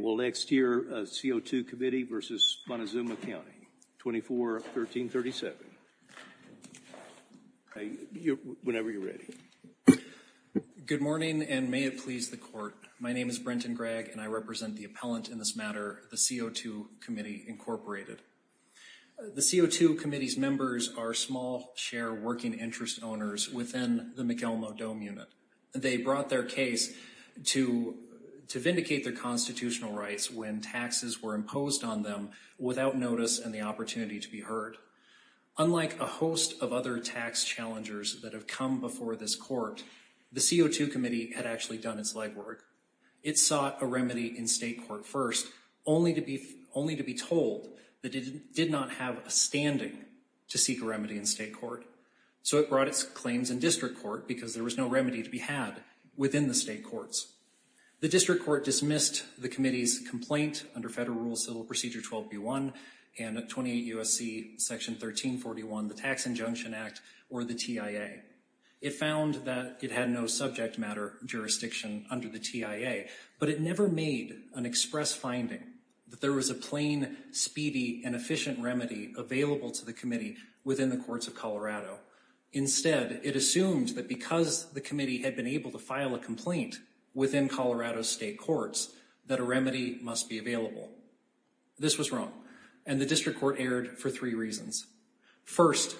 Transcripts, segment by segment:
Good morning, and may it please the Court. My name is Brenton Gregg, and I represent the appellant in this matter, the CO2 Committee Incorporated. The CO2 Committee's members are small share working interest owners within the McElmo Dome Unit. They brought their case to vindicate their constitutional rights when taxes were imposed on them without notice and the opportunity to be heard. Unlike a host of other tax challengers that have come before this Court, the CO2 Committee had actually done its legwork. It sought a remedy in state court first, only to be told that it did not have a standing to seek a remedy in state court. So it brought its claims in district court because there was no remedy to be had within the state courts. The district court dismissed the Committee's complaint under Federal Rules Civil Procedure 12B1 and 28 U.S.C. Section 1341, the Tax Injunction Act, or the TIA. It found that it had no subject matter jurisdiction under the TIA, but it never made an express finding that there was a plain, speedy, and efficient remedy available to the Committee within the courts of Colorado. Instead, it assumed that because the Committee had been able to file a complaint within Colorado's state courts, that a remedy must be available. This was wrong, and the district court erred for three reasons. First,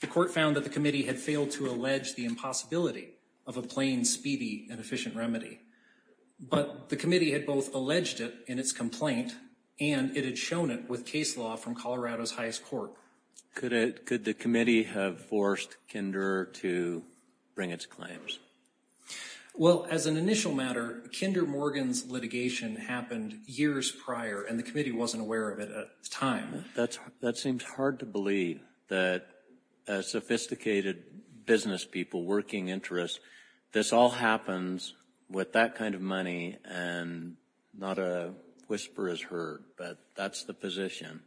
the Court found that the Committee had failed to allege the impossibility of a plain, speedy, and efficient remedy. But the Committee had both alleged it in its complaint and it had shown it with case law from Colorado's highest court. Could the Committee have forced Kinder to bring its claims? Well, as an initial matter, Kinder Morgan's litigation happened years prior, and the Committee wasn't aware of it at the time. That seems hard to believe, that sophisticated business people, working interests, this all happens with that kind of money, and not a whisper is heard, but that's the position.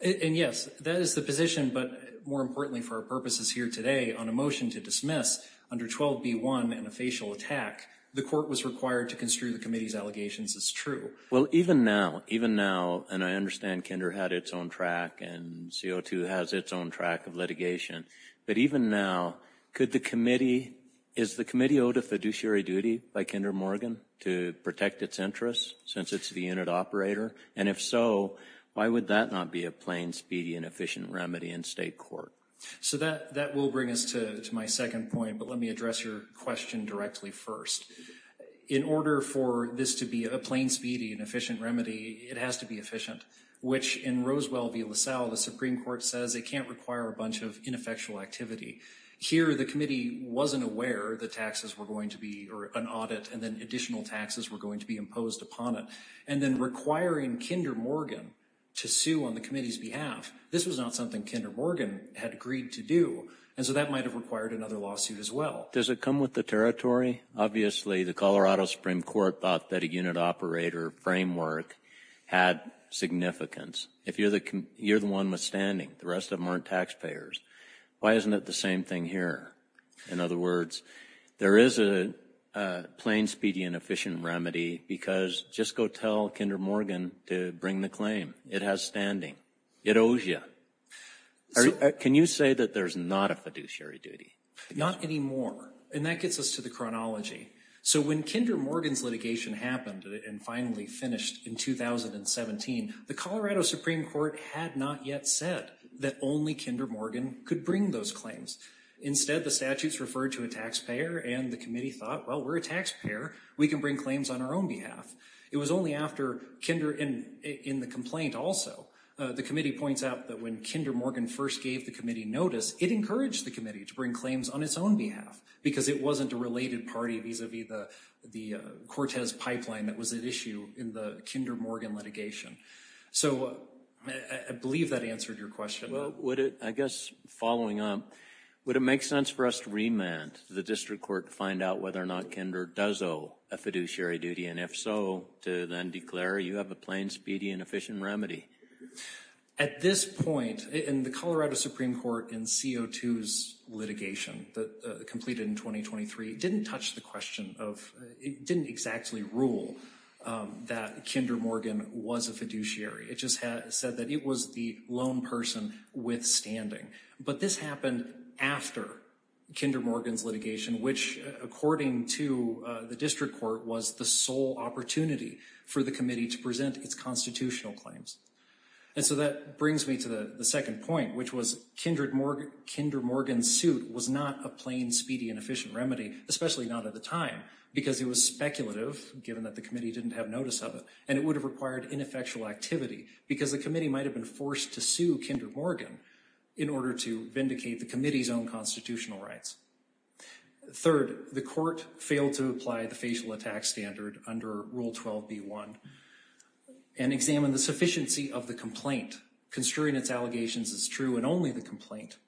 And yes, that is the position, but more importantly for our purposes here today, on a motion to dismiss under 12B1 and a facial attack, the Court was required to construe the Committee's allegations as true. Well, even now, even now, and I understand Kinder had its own track, and CO2 has its own track of litigation, but even now, could the Committee, is the Committee owed a fiduciary duty by Kinder Morgan to protect its interests, since it's the unit operator? And if so, why would that not be a plain, speedy, and efficient remedy in state court? So that will bring us to my second point, but let me address your question directly first. In order for this to be a plain, speedy, and efficient remedy, it has to be efficient, which in Roswell v. LaSalle, the Supreme Court says it can't require a bunch of ineffectual activity. Here, the Committee wasn't aware that taxes were going to be, or an audit, and then additional taxes were going to be imposed upon it. And then requiring Kinder Morgan to sue on the Committee's behalf, this was not something Kinder Morgan had agreed to do, and so that might have required another lawsuit as well. Does it come with the territory? Obviously, the Colorado Supreme Court thought that a unit operator framework had significance. If you're the one with standing, the rest of them aren't taxpayers. Why isn't it the same thing here? In other words, there is a plain, speedy, and efficient remedy, because just go tell Kinder Morgan to bring the claim. It has standing. It owes you. Can you say that there's not a fiduciary duty? Not anymore. And that gets us to the chronology. So when Kinder Morgan's litigation happened and finally finished in 2017, the Colorado Supreme Court had not yet said that only Kinder Morgan could bring those claims. Instead, the statutes referred to a taxpayer, and the Committee thought, well, we're a taxpayer. We can bring claims on our own behalf. It was only after Kinder, in the complaint also, the Committee points out that when Kinder Morgan first gave the Committee notice, it encouraged the Committee to bring claims on its own behalf, because it wasn't a related party vis-a-vis the Cortez pipeline that was at issue in the Kinder Morgan litigation. So I believe that answered your question. Well, would it, I guess, following on, would it make sense for us to remand the District Court to find out whether or not Kinder does owe a fiduciary duty, and if so, to then declare you have a plain, speedy, and efficient remedy? At this point, in the Colorado Supreme Court, in CO2's litigation that completed in 2023, didn't touch the question of, it didn't exactly rule that Kinder Morgan was a fiduciary. It just said that it was the lone person withstanding. But this happened after Kinder Morgan's litigation, which, according to the District Court, was the sole opportunity for the Committee to present its constitutional claims. And so that brings me to the second point, which was Kinder Morgan's suit was not a plain, speedy, and efficient remedy, especially not at the time, because it was speculative, given that the Committee didn't have notice of it, and it would have required ineffectual activity, because the Committee might have been forced to sue Kinder Morgan in order to vindicate the Committee's own constitutional rights. Third, the Court failed to apply the facial attack standard under Rule 12b-1, and examined the sufficiency of the complaint, construing its allegations as true in only the complaint.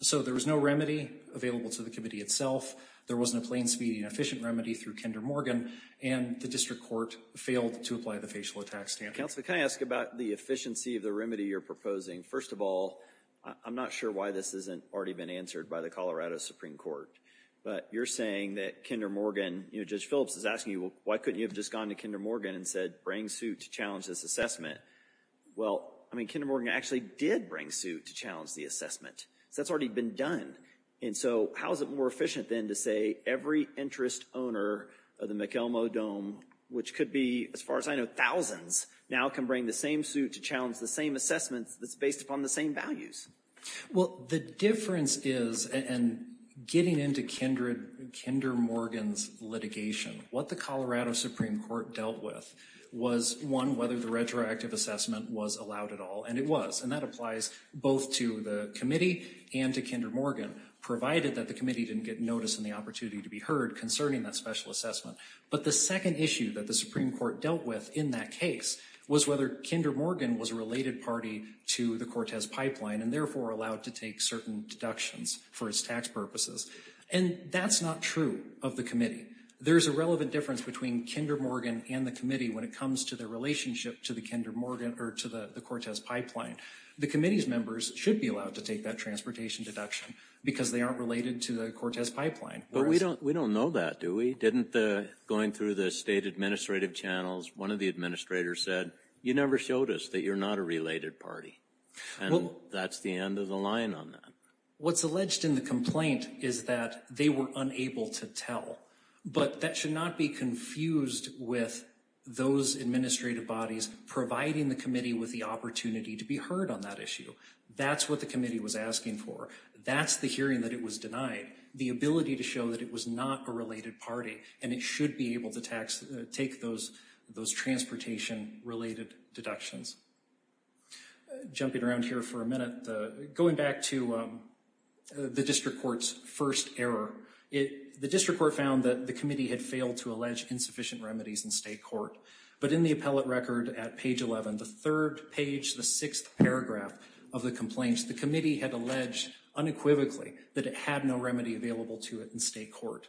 So there was no remedy available to the Committee itself, there wasn't a plain, speedy, and efficient remedy through Kinder Morgan, and the District Court failed to apply the facial attack standard. Counsel, can I ask about the efficiency of the remedy you're proposing? First of all, I'm not sure why this hasn't already been answered by the Colorado Supreme Court, but you're saying that Kinder Morgan, you know, Judge Phillips is asking you, well, why couldn't you have just gone to Kinder Morgan and said, bring suit to challenge this Well, I mean, Kinder Morgan actually did bring suit to challenge the assessment, so that's already been done. And so how is it more efficient, then, to say every interest owner of the McElmo Dome, which could be, as far as I know, thousands, now can bring the same suit to challenge the same assessment that's based upon the same values? Well, the difference is, and getting into Kinder Morgan's litigation, what the Colorado Supreme Court dealt with was, one, whether the retroactive assessment was allowed at all, and it was, and that applies both to the Committee and to Kinder Morgan, provided that the Committee didn't get notice and the opportunity to be heard concerning that special assessment. But the second issue that the Supreme Court dealt with in that case was whether Kinder Morgan was a related party to the Cortez pipeline, and therefore allowed to take certain deductions for its tax purposes. And that's not true of the Committee. There's a relevant difference between Kinder Morgan and the Committee when it comes to their relationship to the Kinder Morgan, or to the Cortez pipeline. The Committee's members should be allowed to take that transportation deduction because they aren't related to the Cortez pipeline. But we don't know that, do we? Didn't the, going through the state administrative channels, one of the administrators said, you never showed us that you're not a related party. And that's the end of the line on that. What's alleged in the complaint is that they were unable to tell. But that should not be confused with those administrative bodies providing the Committee with the opportunity to be heard on that issue. That's what the Committee was asking for. That's the hearing that it was denied. The ability to show that it was not a related party, and it should be able to take those transportation-related deductions. Jumping around here for a minute, going back to the District Court's first error. The District Court found that the Committee had failed to allege insufficient remedies in state court. But in the appellate record at page 11, the third page, the sixth paragraph of the complaint, the Committee had alleged unequivocally that it had no remedy available to it in state court.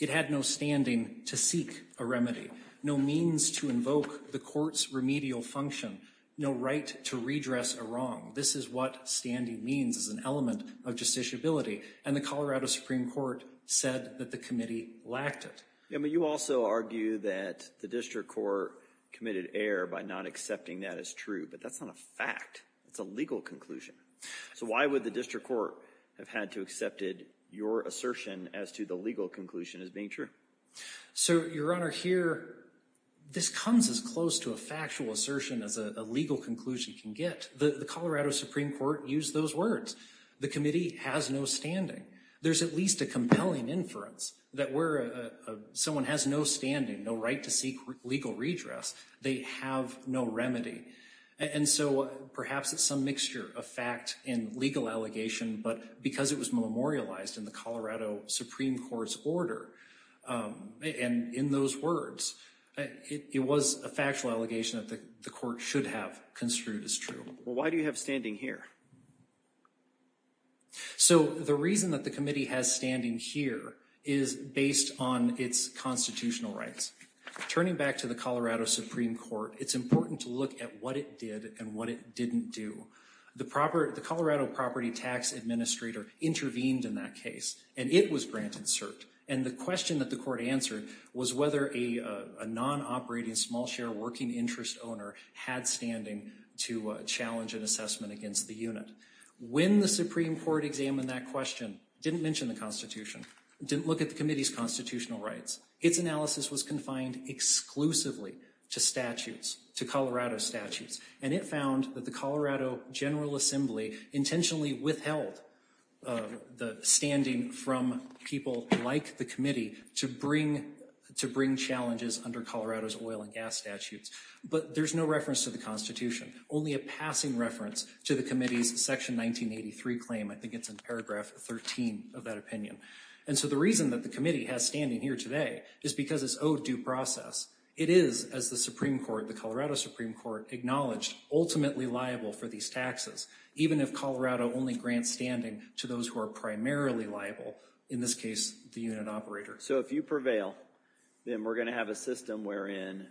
It had no standing to seek a remedy. No means to invoke the Court's remedial function. No right to redress a wrong. This is what standing means as an element of justiciability. And the Colorado Supreme Court said that the Committee lacked it. Yeah, but you also argue that the District Court committed error by not accepting that as true. But that's not a fact. It's a legal conclusion. So why would the District Court have had to accept your assertion as to the legal conclusion as being true? So, Your Honor, here, this comes as close to a factual assertion as a legal conclusion can get. The Colorado Supreme Court used those words. The Committee has no standing. There's at least a compelling inference that where someone has no standing, no right to seek legal redress, they have no remedy. And so perhaps it's some mixture of fact and legal allegation, but because it was memorialized in the Colorado Supreme Court's order and in those words, it was a factual allegation that the Court should have construed as true. Well, why do you have standing here? So the reason that the Committee has standing here is based on its constitutional rights. Turning back to the Colorado Supreme Court, it's important to look at what it did and what it didn't do. The Colorado Property Tax Administrator intervened in that case, and it was granted cert. And the question that the Court answered was whether a non-operating small share working interest owner had standing to challenge an assessment against the unit. When the Supreme Court examined that question, it didn't mention the Constitution. It didn't look at the Committee's constitutional rights. Its analysis was confined exclusively to statutes, to Colorado statutes. And it found that the Colorado General Assembly intentionally withheld the standing from people like the Committee to bring challenges under Colorado's oil and gas statutes. But there's no reference to the Constitution, only a passing reference to the Committee's Section 1983 claim. I think it's in paragraph 13 of that opinion. And so the reason that the Committee has standing here today is because it's owed due process. It is, as the Colorado Supreme Court acknowledged, ultimately liable for these taxes, even if Colorado only grants standing to those who are primarily liable, in this case, the unit operator. So if you prevail, then we're going to have a system wherein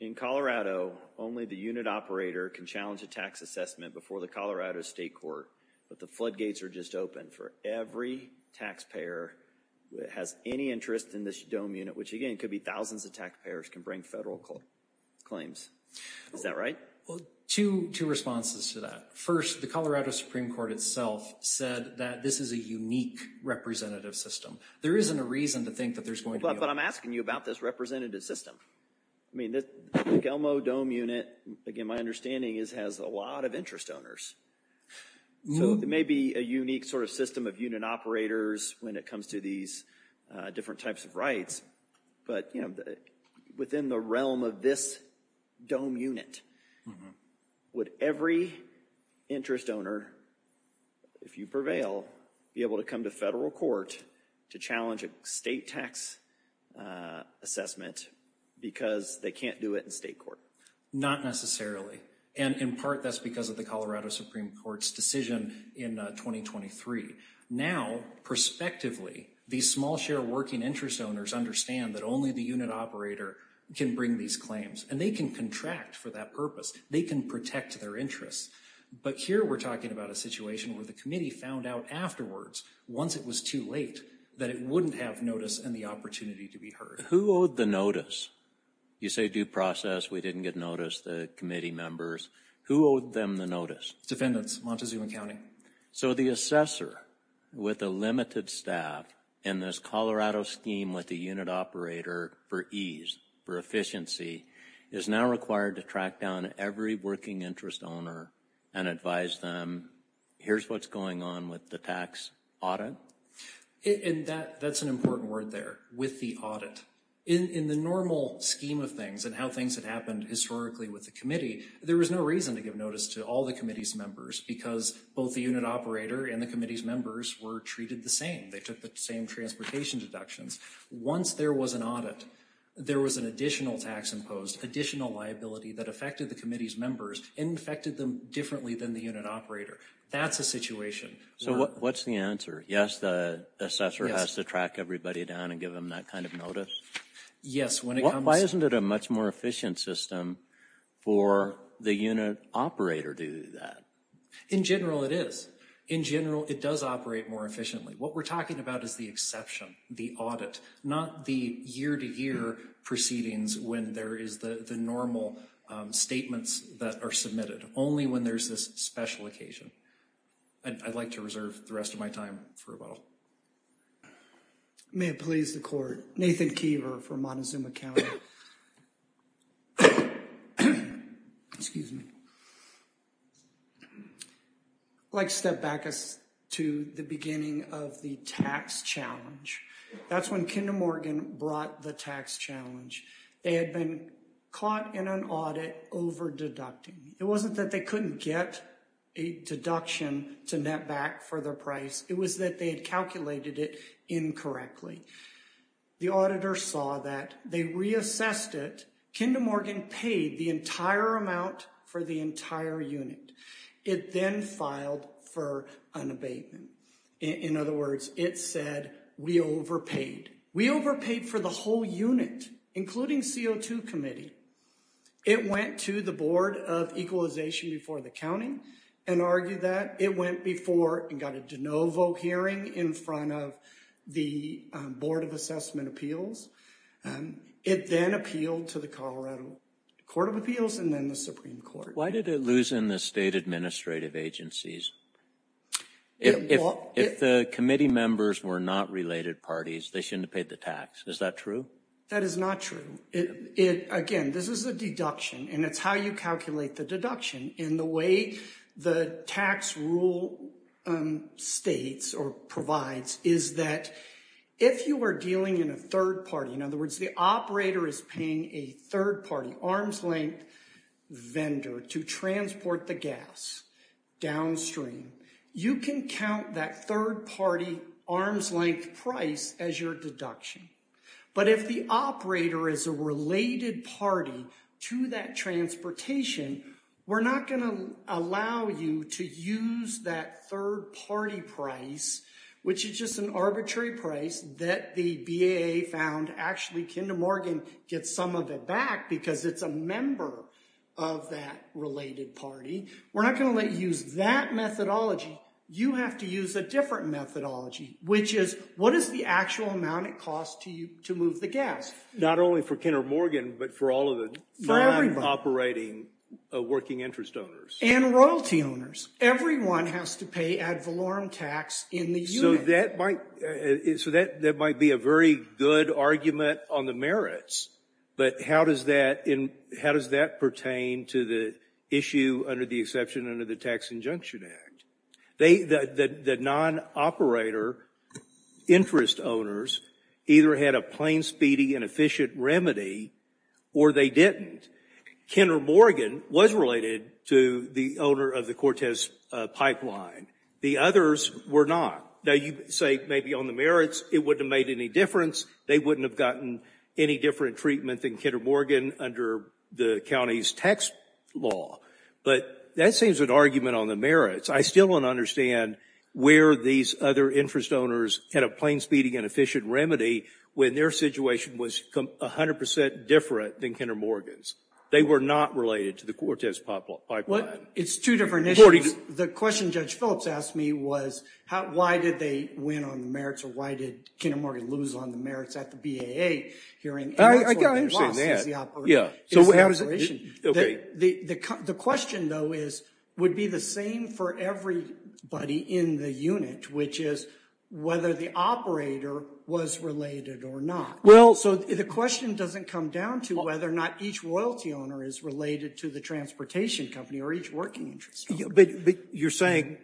in Colorado, only the unit operator can challenge a tax assessment before the Colorado State Court, but the floodgates are just open for every taxpayer that has any interest in this dome unit, which again could be thousands of taxpayers, can bring federal claims. Is that right? Well, two responses to that. First, the Colorado Supreme Court itself said that this is a unique representative system. There isn't a reason to think that there's going to be a- But I'm asking you about this representative system. I mean, the Delmo Dome unit, again, my understanding is has a lot of interest owners. So it may be a unique sort of system of unit operators when it comes to these different types of rights, but within the realm of this dome unit, would every interest owner, if you prevail, be able to come to federal court to challenge a state tax assessment because they can't do it in state court? Not necessarily. And in part, that's because of the Colorado Supreme Court's decision in 2023. Now, prospectively, these small share working interest owners understand that only the unit operator can bring these claims, and they can contract for that purpose. They can protect their interests. But here we're talking about a situation where the committee found out afterwards, once it was too late, that it wouldn't have notice and the opportunity to be heard. Who owed the notice? You say due process, we didn't get notice, the committee members. Who owed them the notice? Defendants, Montezuma County. So the assessor, with a limited staff, in this Colorado scheme with the unit operator for ease, for efficiency, is now required to track down every working interest owner and advise them, here's what's going on with the tax audit? And that's an important word there, with the audit. In the normal scheme of things and how things have happened historically with the committee, there was no reason to give notice to all the committee's members because both the unit operator and the committee's members were treated the same. They took the same transportation deductions. Once there was an audit, there was an additional tax imposed, additional liability that affected the committee's members and affected them differently than the unit operator. That's a situation. So what's the answer? Yes, the assessor has to track everybody down and give them that kind of notice? Yes. Why isn't it a much more efficient system for the unit operator to do that? In general, it is. In general, it does operate more efficiently. What we're talking about is the exception, the audit, not the year-to-year proceedings when there is the normal statements that are submitted, only when there's this special occasion. I'd like to reserve the rest of my time for a while. May it please the Court. Nathan Keever from Montezuma County. Excuse me. I'd like to step back to the beginning of the tax challenge. That's when Kinder Morgan brought the tax challenge. They had been caught in an audit over-deducting. It wasn't that they couldn't get a deduction to net back for their price. It was that they had calculated it incorrectly. The auditor saw that. They reassessed it. Kinder Morgan paid the entire amount for the entire unit. It then filed for an abatement. In other words, it said, we overpaid. We overpaid for the whole unit, including CO2 committee. It went to the Board of Equalization before the county and argued that. It went before and got a de novo hearing in front of the Board of Assessment Appeals. It then appealed to the Colorado Court of Appeals and then the Supreme Court. Why did it lose in the state administrative agencies? If the committee members were not related parties, they shouldn't have paid the tax. Is that true? That is not true. Again, this is a deduction, and it's how you calculate the deduction. And the way the tax rule states or provides is that if you are dealing in a third party, in other words, the operator is paying a third party, arm's length vendor to transport the gas downstream. You can count that third party arm's length price as your deduction. But if the operator is a related party to that transportation, we're not going to allow you to use that third party price, which is just an arbitrary price that the BAA found. Actually, Kinder Morgan gets some of it back because it's a member of that related party. We're not going to let you use that methodology. You have to use a different methodology, which is what is the actual amount it costs to you to move the gas? Not only for Kinder Morgan, but for all of the non-operating working interest owners. And royalty owners. Everyone has to pay ad valorem tax in the unit. So that might be a very good argument on the merits, but how does that pertain to the issue under the exception under the Tax Injunction Act? The non-operator interest owners either had a plain, speedy, and efficient remedy, or they didn't. Kinder Morgan was related to the owner of the Cortez pipeline. The others were not. Now, you say maybe on the merits, it wouldn't have made any difference. They wouldn't have gotten any different treatment than Kinder Morgan under the county's tax law. But that seems an argument on the merits. I still don't understand where these other interest owners had a plain, speedy, and efficient remedy when their situation was 100% different than Kinder Morgan's. They were not related to the Cortez pipeline. It's two different issues. The question Judge Phillips asked me was, why did they win on the merits, or why did Kinder Morgan lose on the merits at the BAA hearing? I understand that. The question, though, would be the same for everybody in the unit, which is whether the operator was related or not. So the question doesn't come down to whether or not each royalty owner is related to the transportation company or each working interest owner. But you're saying,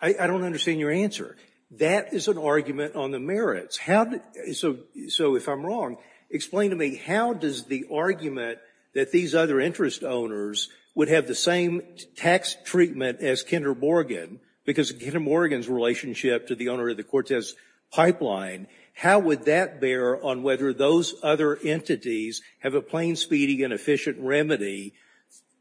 I don't understand your answer. That is an argument on the merits. So if I'm wrong, explain to me, how does the argument that these other interest owners would have the same tax treatment as Kinder Morgan, because of Kinder Morgan's relationship to the owner of the Cortez pipeline, how would that bear on whether those other entities have a plain, speedy, and efficient remedy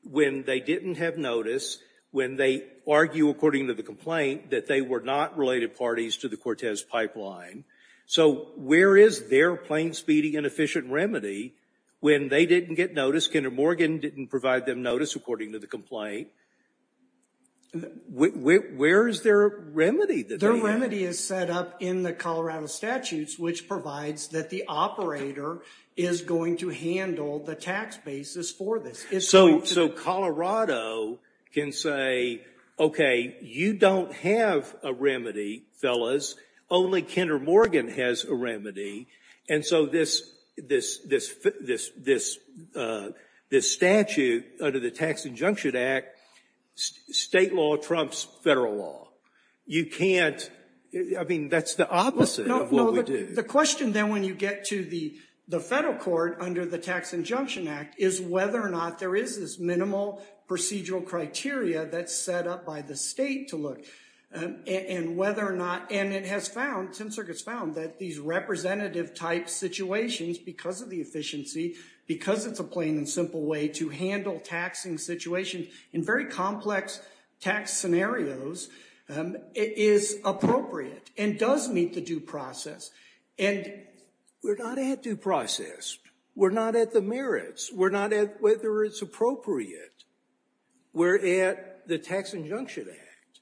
when they didn't have notice, when they argue according to the complaint that they were not related parties to the Cortez pipeline? So where is their plain, speedy, and efficient remedy when they didn't get notice, Kinder Morgan didn't provide them notice according to the complaint? Where is their remedy that they have? Their remedy is set up in the Colorado statutes, which provides that the operator is going to handle the tax basis for this. So Colorado can say, okay, you don't have a remedy, fellas, only Kinder Morgan has a remedy. And so this statute under the Tax Injunction Act, state law trumps federal law. You can't, I mean, that's the opposite of what we do. The question then when you get to the federal court under the Tax Injunction Act is whether or not there is this minimal procedural criteria that's set up by the state to look. And whether or not, and it has found, Ten Circuit's found that these representative type situations, because of the efficiency, because it's a plain and simple way to handle taxing situations in very complex tax scenarios, is appropriate and does meet the due process. And we're not at due process. We're not at the merits. We're not at whether it's appropriate. We're at the Tax Injunction Act.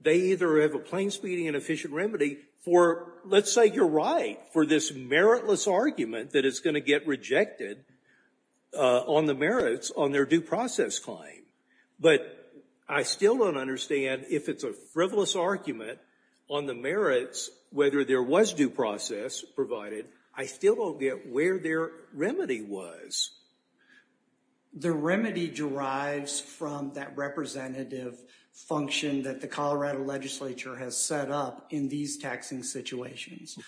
They either have a plain, speedy, and efficient remedy for, let's say you're right, for this meritless argument that is going to get rejected on the merits on their due process claim. But I still don't understand if it's a frivolous argument on the merits, whether there was due process provided, I still don't get where their remedy was. The remedy derives from that representative function that the Colorado legislature has set up in these taxing situations.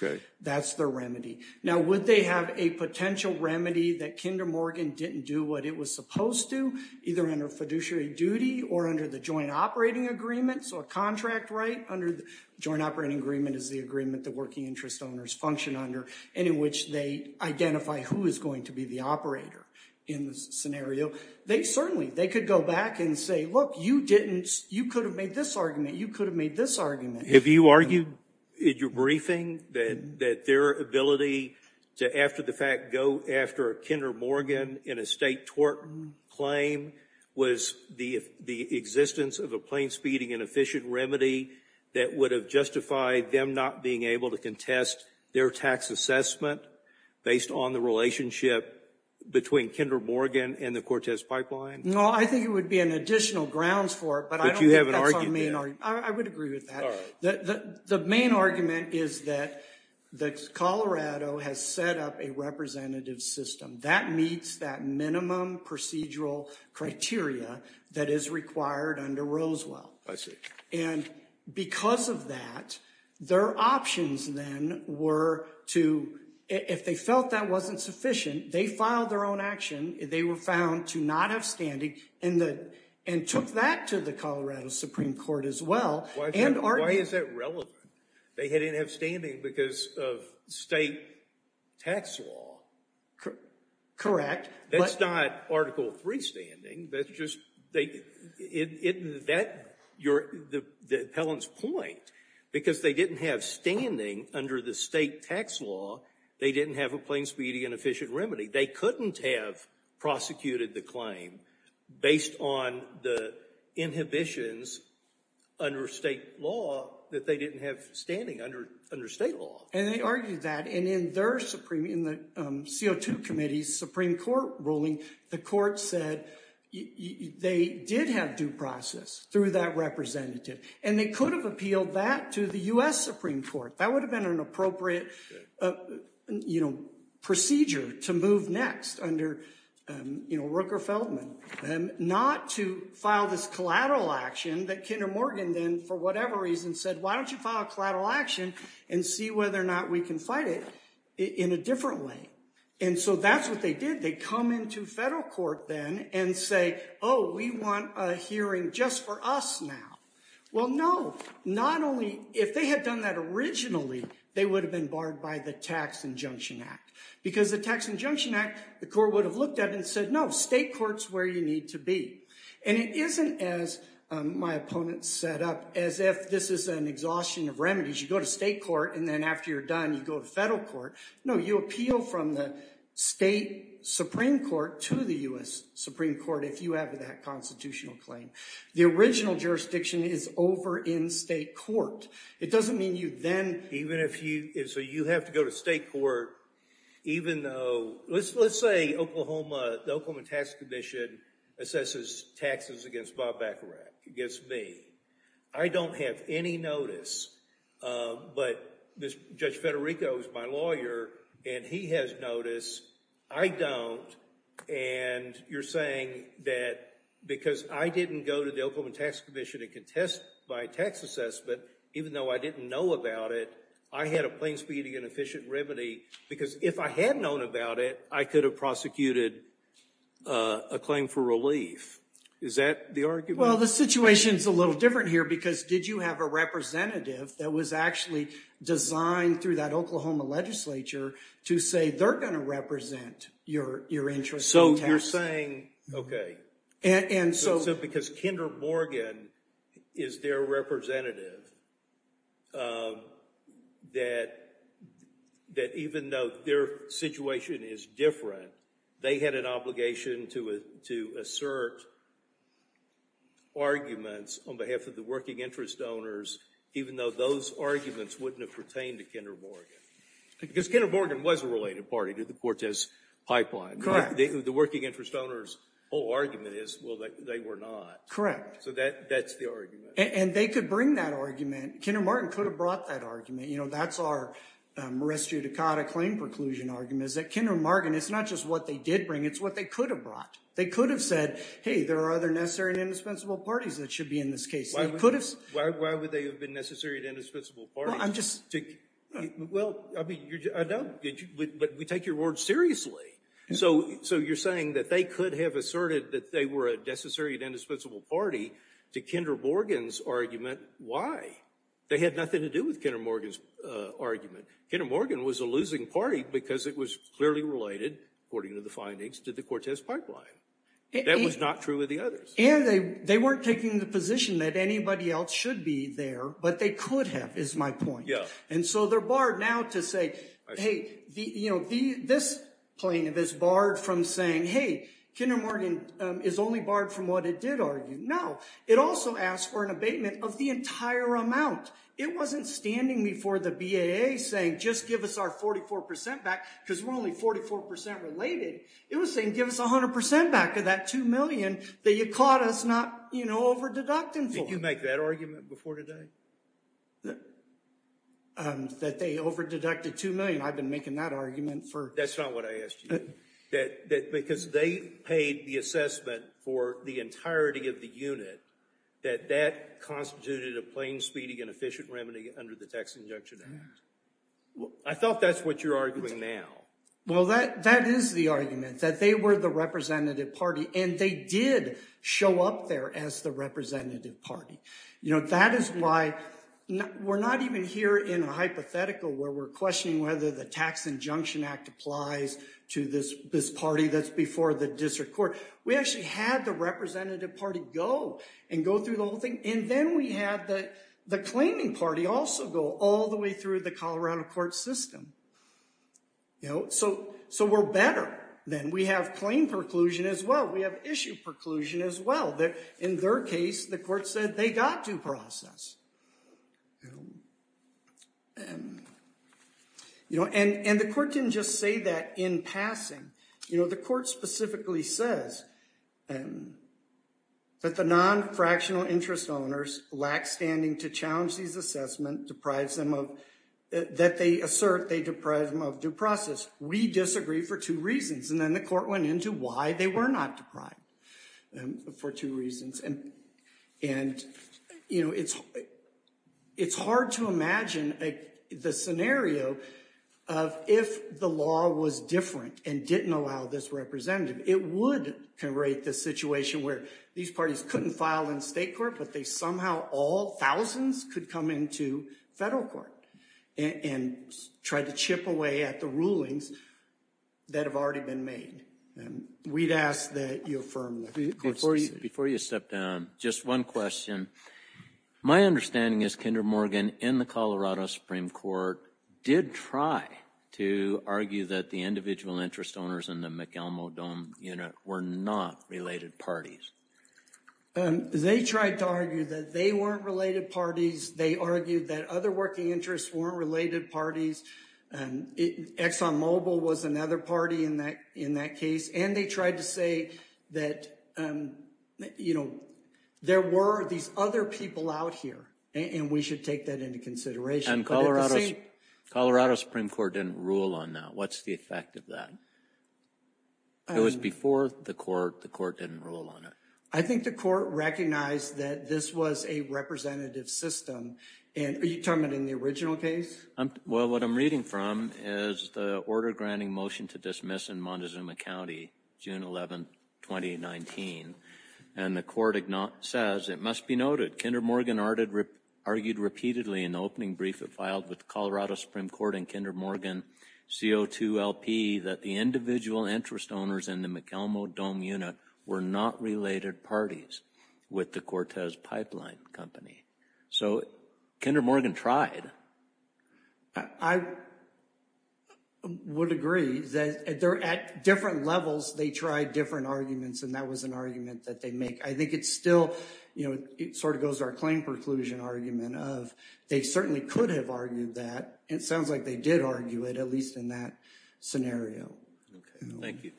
That's the remedy. Now, would they have a potential remedy that Kinder Morgan didn't do what it was supposed to, either under fiduciary duty or under the joint operating agreement, so a contract right, under the joint operating agreement is the agreement that working interest owners function under, and in which they identify who is going to be the operator in the scenario. They certainly, they could go back and say, look, you didn't, you could have made this argument. You could have made this argument. Have you argued in your briefing that their ability to, after the fact, go after a Kinder Morgan in a state tort claim was the existence of a plain, speeding and efficient remedy that would have justified them not being able to contest their tax assessment based on the relationship between Kinder Morgan and the Cortez pipeline? No, I think it would be an additional grounds for it, but I don't think that's our main argument. I would agree with that. The main argument is that Colorado has set up a representative system that meets that minimum procedural criteria that is required under Rosewell. I see. And because of that, their options then were to, if they felt that wasn't sufficient, they filed their own action, they were found to not have standing, and took that to the Colorado Supreme Court as well. Why is that relevant? They didn't have standing because of state tax law. Correct. That's not Article III standing. That's just, that, the appellant's point, because they didn't have standing under the state tax law, they didn't have a plain, speeding and efficient remedy. They couldn't have prosecuted the claim based on the inhibitions under state law that they didn't have standing under state law. And they argued that, and in their Supreme, in the CO2 Committee's Supreme Court ruling, the court said they did have due process through that representative, and they could have appealed that to the U.S. Supreme Court. That would have been an appropriate, you know, procedure to move next under, you know, Rooker-Feldman, not to file this collateral action that Kinder Morgan then, for whatever reason, said, why don't you file a collateral action and see whether or not we can fight it in a different way? And so that's what they did. They come into federal court then and say, oh, we want a hearing just for us now. Well, no, not only, if they had done that originally, they would have been barred by the Tax Injunction Act. Because the Tax Injunction Act, the court would have looked at it and said, no, state court's where you need to be. And it isn't, as my opponent set up, as if this is an exhaustion of remedies. You go to state court, and then after you're done, you go to federal court. No, you appeal from the state Supreme Court to the U.S. Supreme Court if you have that constitutional claim. The original jurisdiction is over in state court. It doesn't mean you then, even if you, and so you have to go to state court, even though, let's say Oklahoma, the Oklahoma Tax Commission assesses taxes against Bob Bacharach, against me. I don't have any notice, but Judge Federico is my lawyer, and he has notice. I don't, and you're saying that because I didn't go to the Oklahoma Tax Commission and contest my tax assessment, even though I didn't know about it, I had a plain-speaking and efficient remedy. Because if I had known about it, I could have prosecuted a claim for relief. Is that the argument? Well, the situation's a little different here, because did you have a representative that was actually designed through that Oklahoma legislature to say they're going to represent your interest in tax? You're saying, okay, because Kinder Morgan is their representative, that even though their situation is different, they had an obligation to assert arguments on behalf of the working interest owners, even though those arguments wouldn't have pertained to Kinder Morgan. Because Kinder Morgan was a related party to the Cortez pipeline. Correct. The working interest owners' whole argument is, well, they were not. Correct. So that's the argument. And they could bring that argument. Kinder Morgan could have brought that argument. You know, that's our Marestio D'Cotta claim preclusion argument, is that Kinder Morgan, it's not just what they did bring, it's what they could have brought. They could have said, hey, there are other necessary and indispensable parties that should be in this case. Why would they have been necessary and indispensable parties? Well, I'm just— Well, I mean, I know, but we take your word seriously. So you're saying that they could have asserted that they were a necessary and indispensable party to Kinder Morgan's argument. Why? They had nothing to do with Kinder Morgan's argument. Kinder Morgan was a losing party because it was clearly related, according to the findings, to the Cortez pipeline. That was not true of the others. And they weren't taking the position that anybody else should be there, but they could have, is my point. Yeah. So they're barred now to say, hey, this plaintiff is barred from saying, hey, Kinder Morgan is only barred from what it did argue. No. It also asked for an abatement of the entire amount. It wasn't standing before the BAA saying, just give us our 44% back, because we're only 44% related. It was saying, give us 100% back of that $2 million that you caught us not over-deducting for. Did you make that argument before today? That they over-deducted $2 million. I've been making that argument for— That's not what I asked you. Because they paid the assessment for the entirety of the unit that that constituted a plain, speedy, and efficient remedy under the tax injunction. I thought that's what you're arguing now. Well, that is the argument, that they were the representative party. And they did show up there as the representative party. That is why we're not even here in a hypothetical where we're questioning whether the tax injunction act applies to this party that's before the district court. We actually had the representative party go and go through the whole thing. And then we had the claiming party also go all the way through the Colorado court system. So we're better then. We have claim preclusion as well. We have issue preclusion as well. In their case, the court said they got due process. And the court didn't just say that in passing. The court specifically says that the non-fractional interest owners lack standing to challenge these assessments that they assert they deprived them of due process. We disagree for two reasons. And then the court went into why they were not deprived for two reasons. It's hard to imagine the scenario of if the law was different and didn't allow this representative, it would create this situation where these parties couldn't file in state court, but they somehow all thousands could come into federal court and try to chip away at the rulings that have already been made. We'd ask that you affirm the court's decision. Before you step down, just one question. My understanding is Kinder Morgan in the Colorado Supreme Court did try to argue that the individual interest owners in the McElmo Dome unit were not related parties. They tried to argue that they weren't related parties. They argued that other working interests weren't related parties. And Exxon Mobil was another party in that case. And they tried to say that there were these other people out here, and we should take that into consideration. And Colorado Supreme Court didn't rule on that. What's the effect of that? It was before the court. The court didn't rule on it. I think the court recognized that this was a representative system. And are you talking about in the original case? Well, what I'm reading from is the order granting motion to dismiss in Montezuma County, June 11, 2019. And the court says, it must be noted, Kinder Morgan argued repeatedly in the opening brief it filed with Colorado Supreme Court and Kinder Morgan CO2 LP that the individual interest owners in the McElmo Dome unit were not related parties with the Cortez Pipeline Company. So Kinder Morgan tried. I would agree that they're at different levels. They tried different arguments. And that was an argument that they make. I think it's still, you know, it sort of goes to our claim preclusion argument of they certainly could have argued that. It sounds like they did argue it, at least in that scenario. Thank you.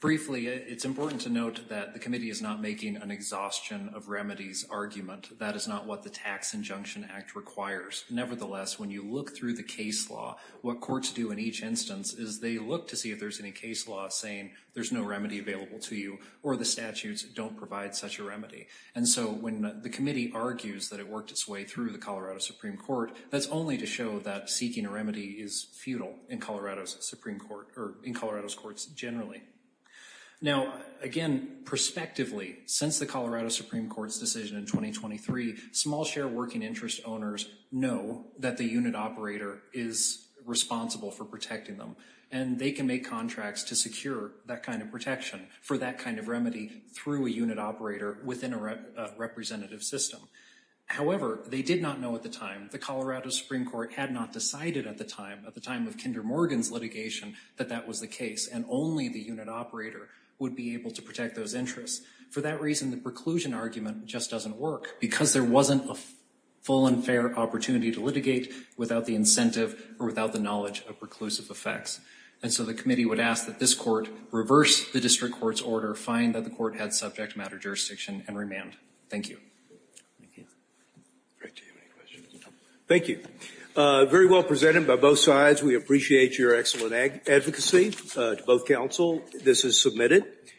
Briefly, it's important to note that the committee is not making an exhaustion of remedies argument. That is not what the Tax Injunction Act requires. Nevertheless, when you look through the case law, what courts do in each instance is they look to see if there's any case law saying there's no remedy available to you or the statutes don't provide such a remedy. And so when the committee argues that it worked its way through the Colorado Supreme Court, that's only to show that seeking a remedy is futile in Colorado's Supreme Court or in Colorado's courts generally. Now, again, prospectively, since the Colorado Supreme Court's decision in 2023, small share working interest owners know that the unit operator is responsible for protecting them. And they can make contracts to secure that kind of protection for that kind of remedy through a unit operator within a representative system. However, they did not know at the time, the Colorado Supreme Court had not decided at the time, at the time of Kinder Morgan's litigation, that that was the case. And only the unit operator would be able to protect those interests. For that reason, the preclusion argument just doesn't work because there wasn't a full and fair opportunity to litigate without the incentive or without the knowledge of preclusive effects. And so the committee would ask that this court reverse the district court's order, find that the court had subject matter jurisdiction, and remand. Thank you. Thank you. Great. Do you have any questions? Thank you. Very well presented by both sides. We appreciate your excellent advocacy. To both counsel, this is submitted.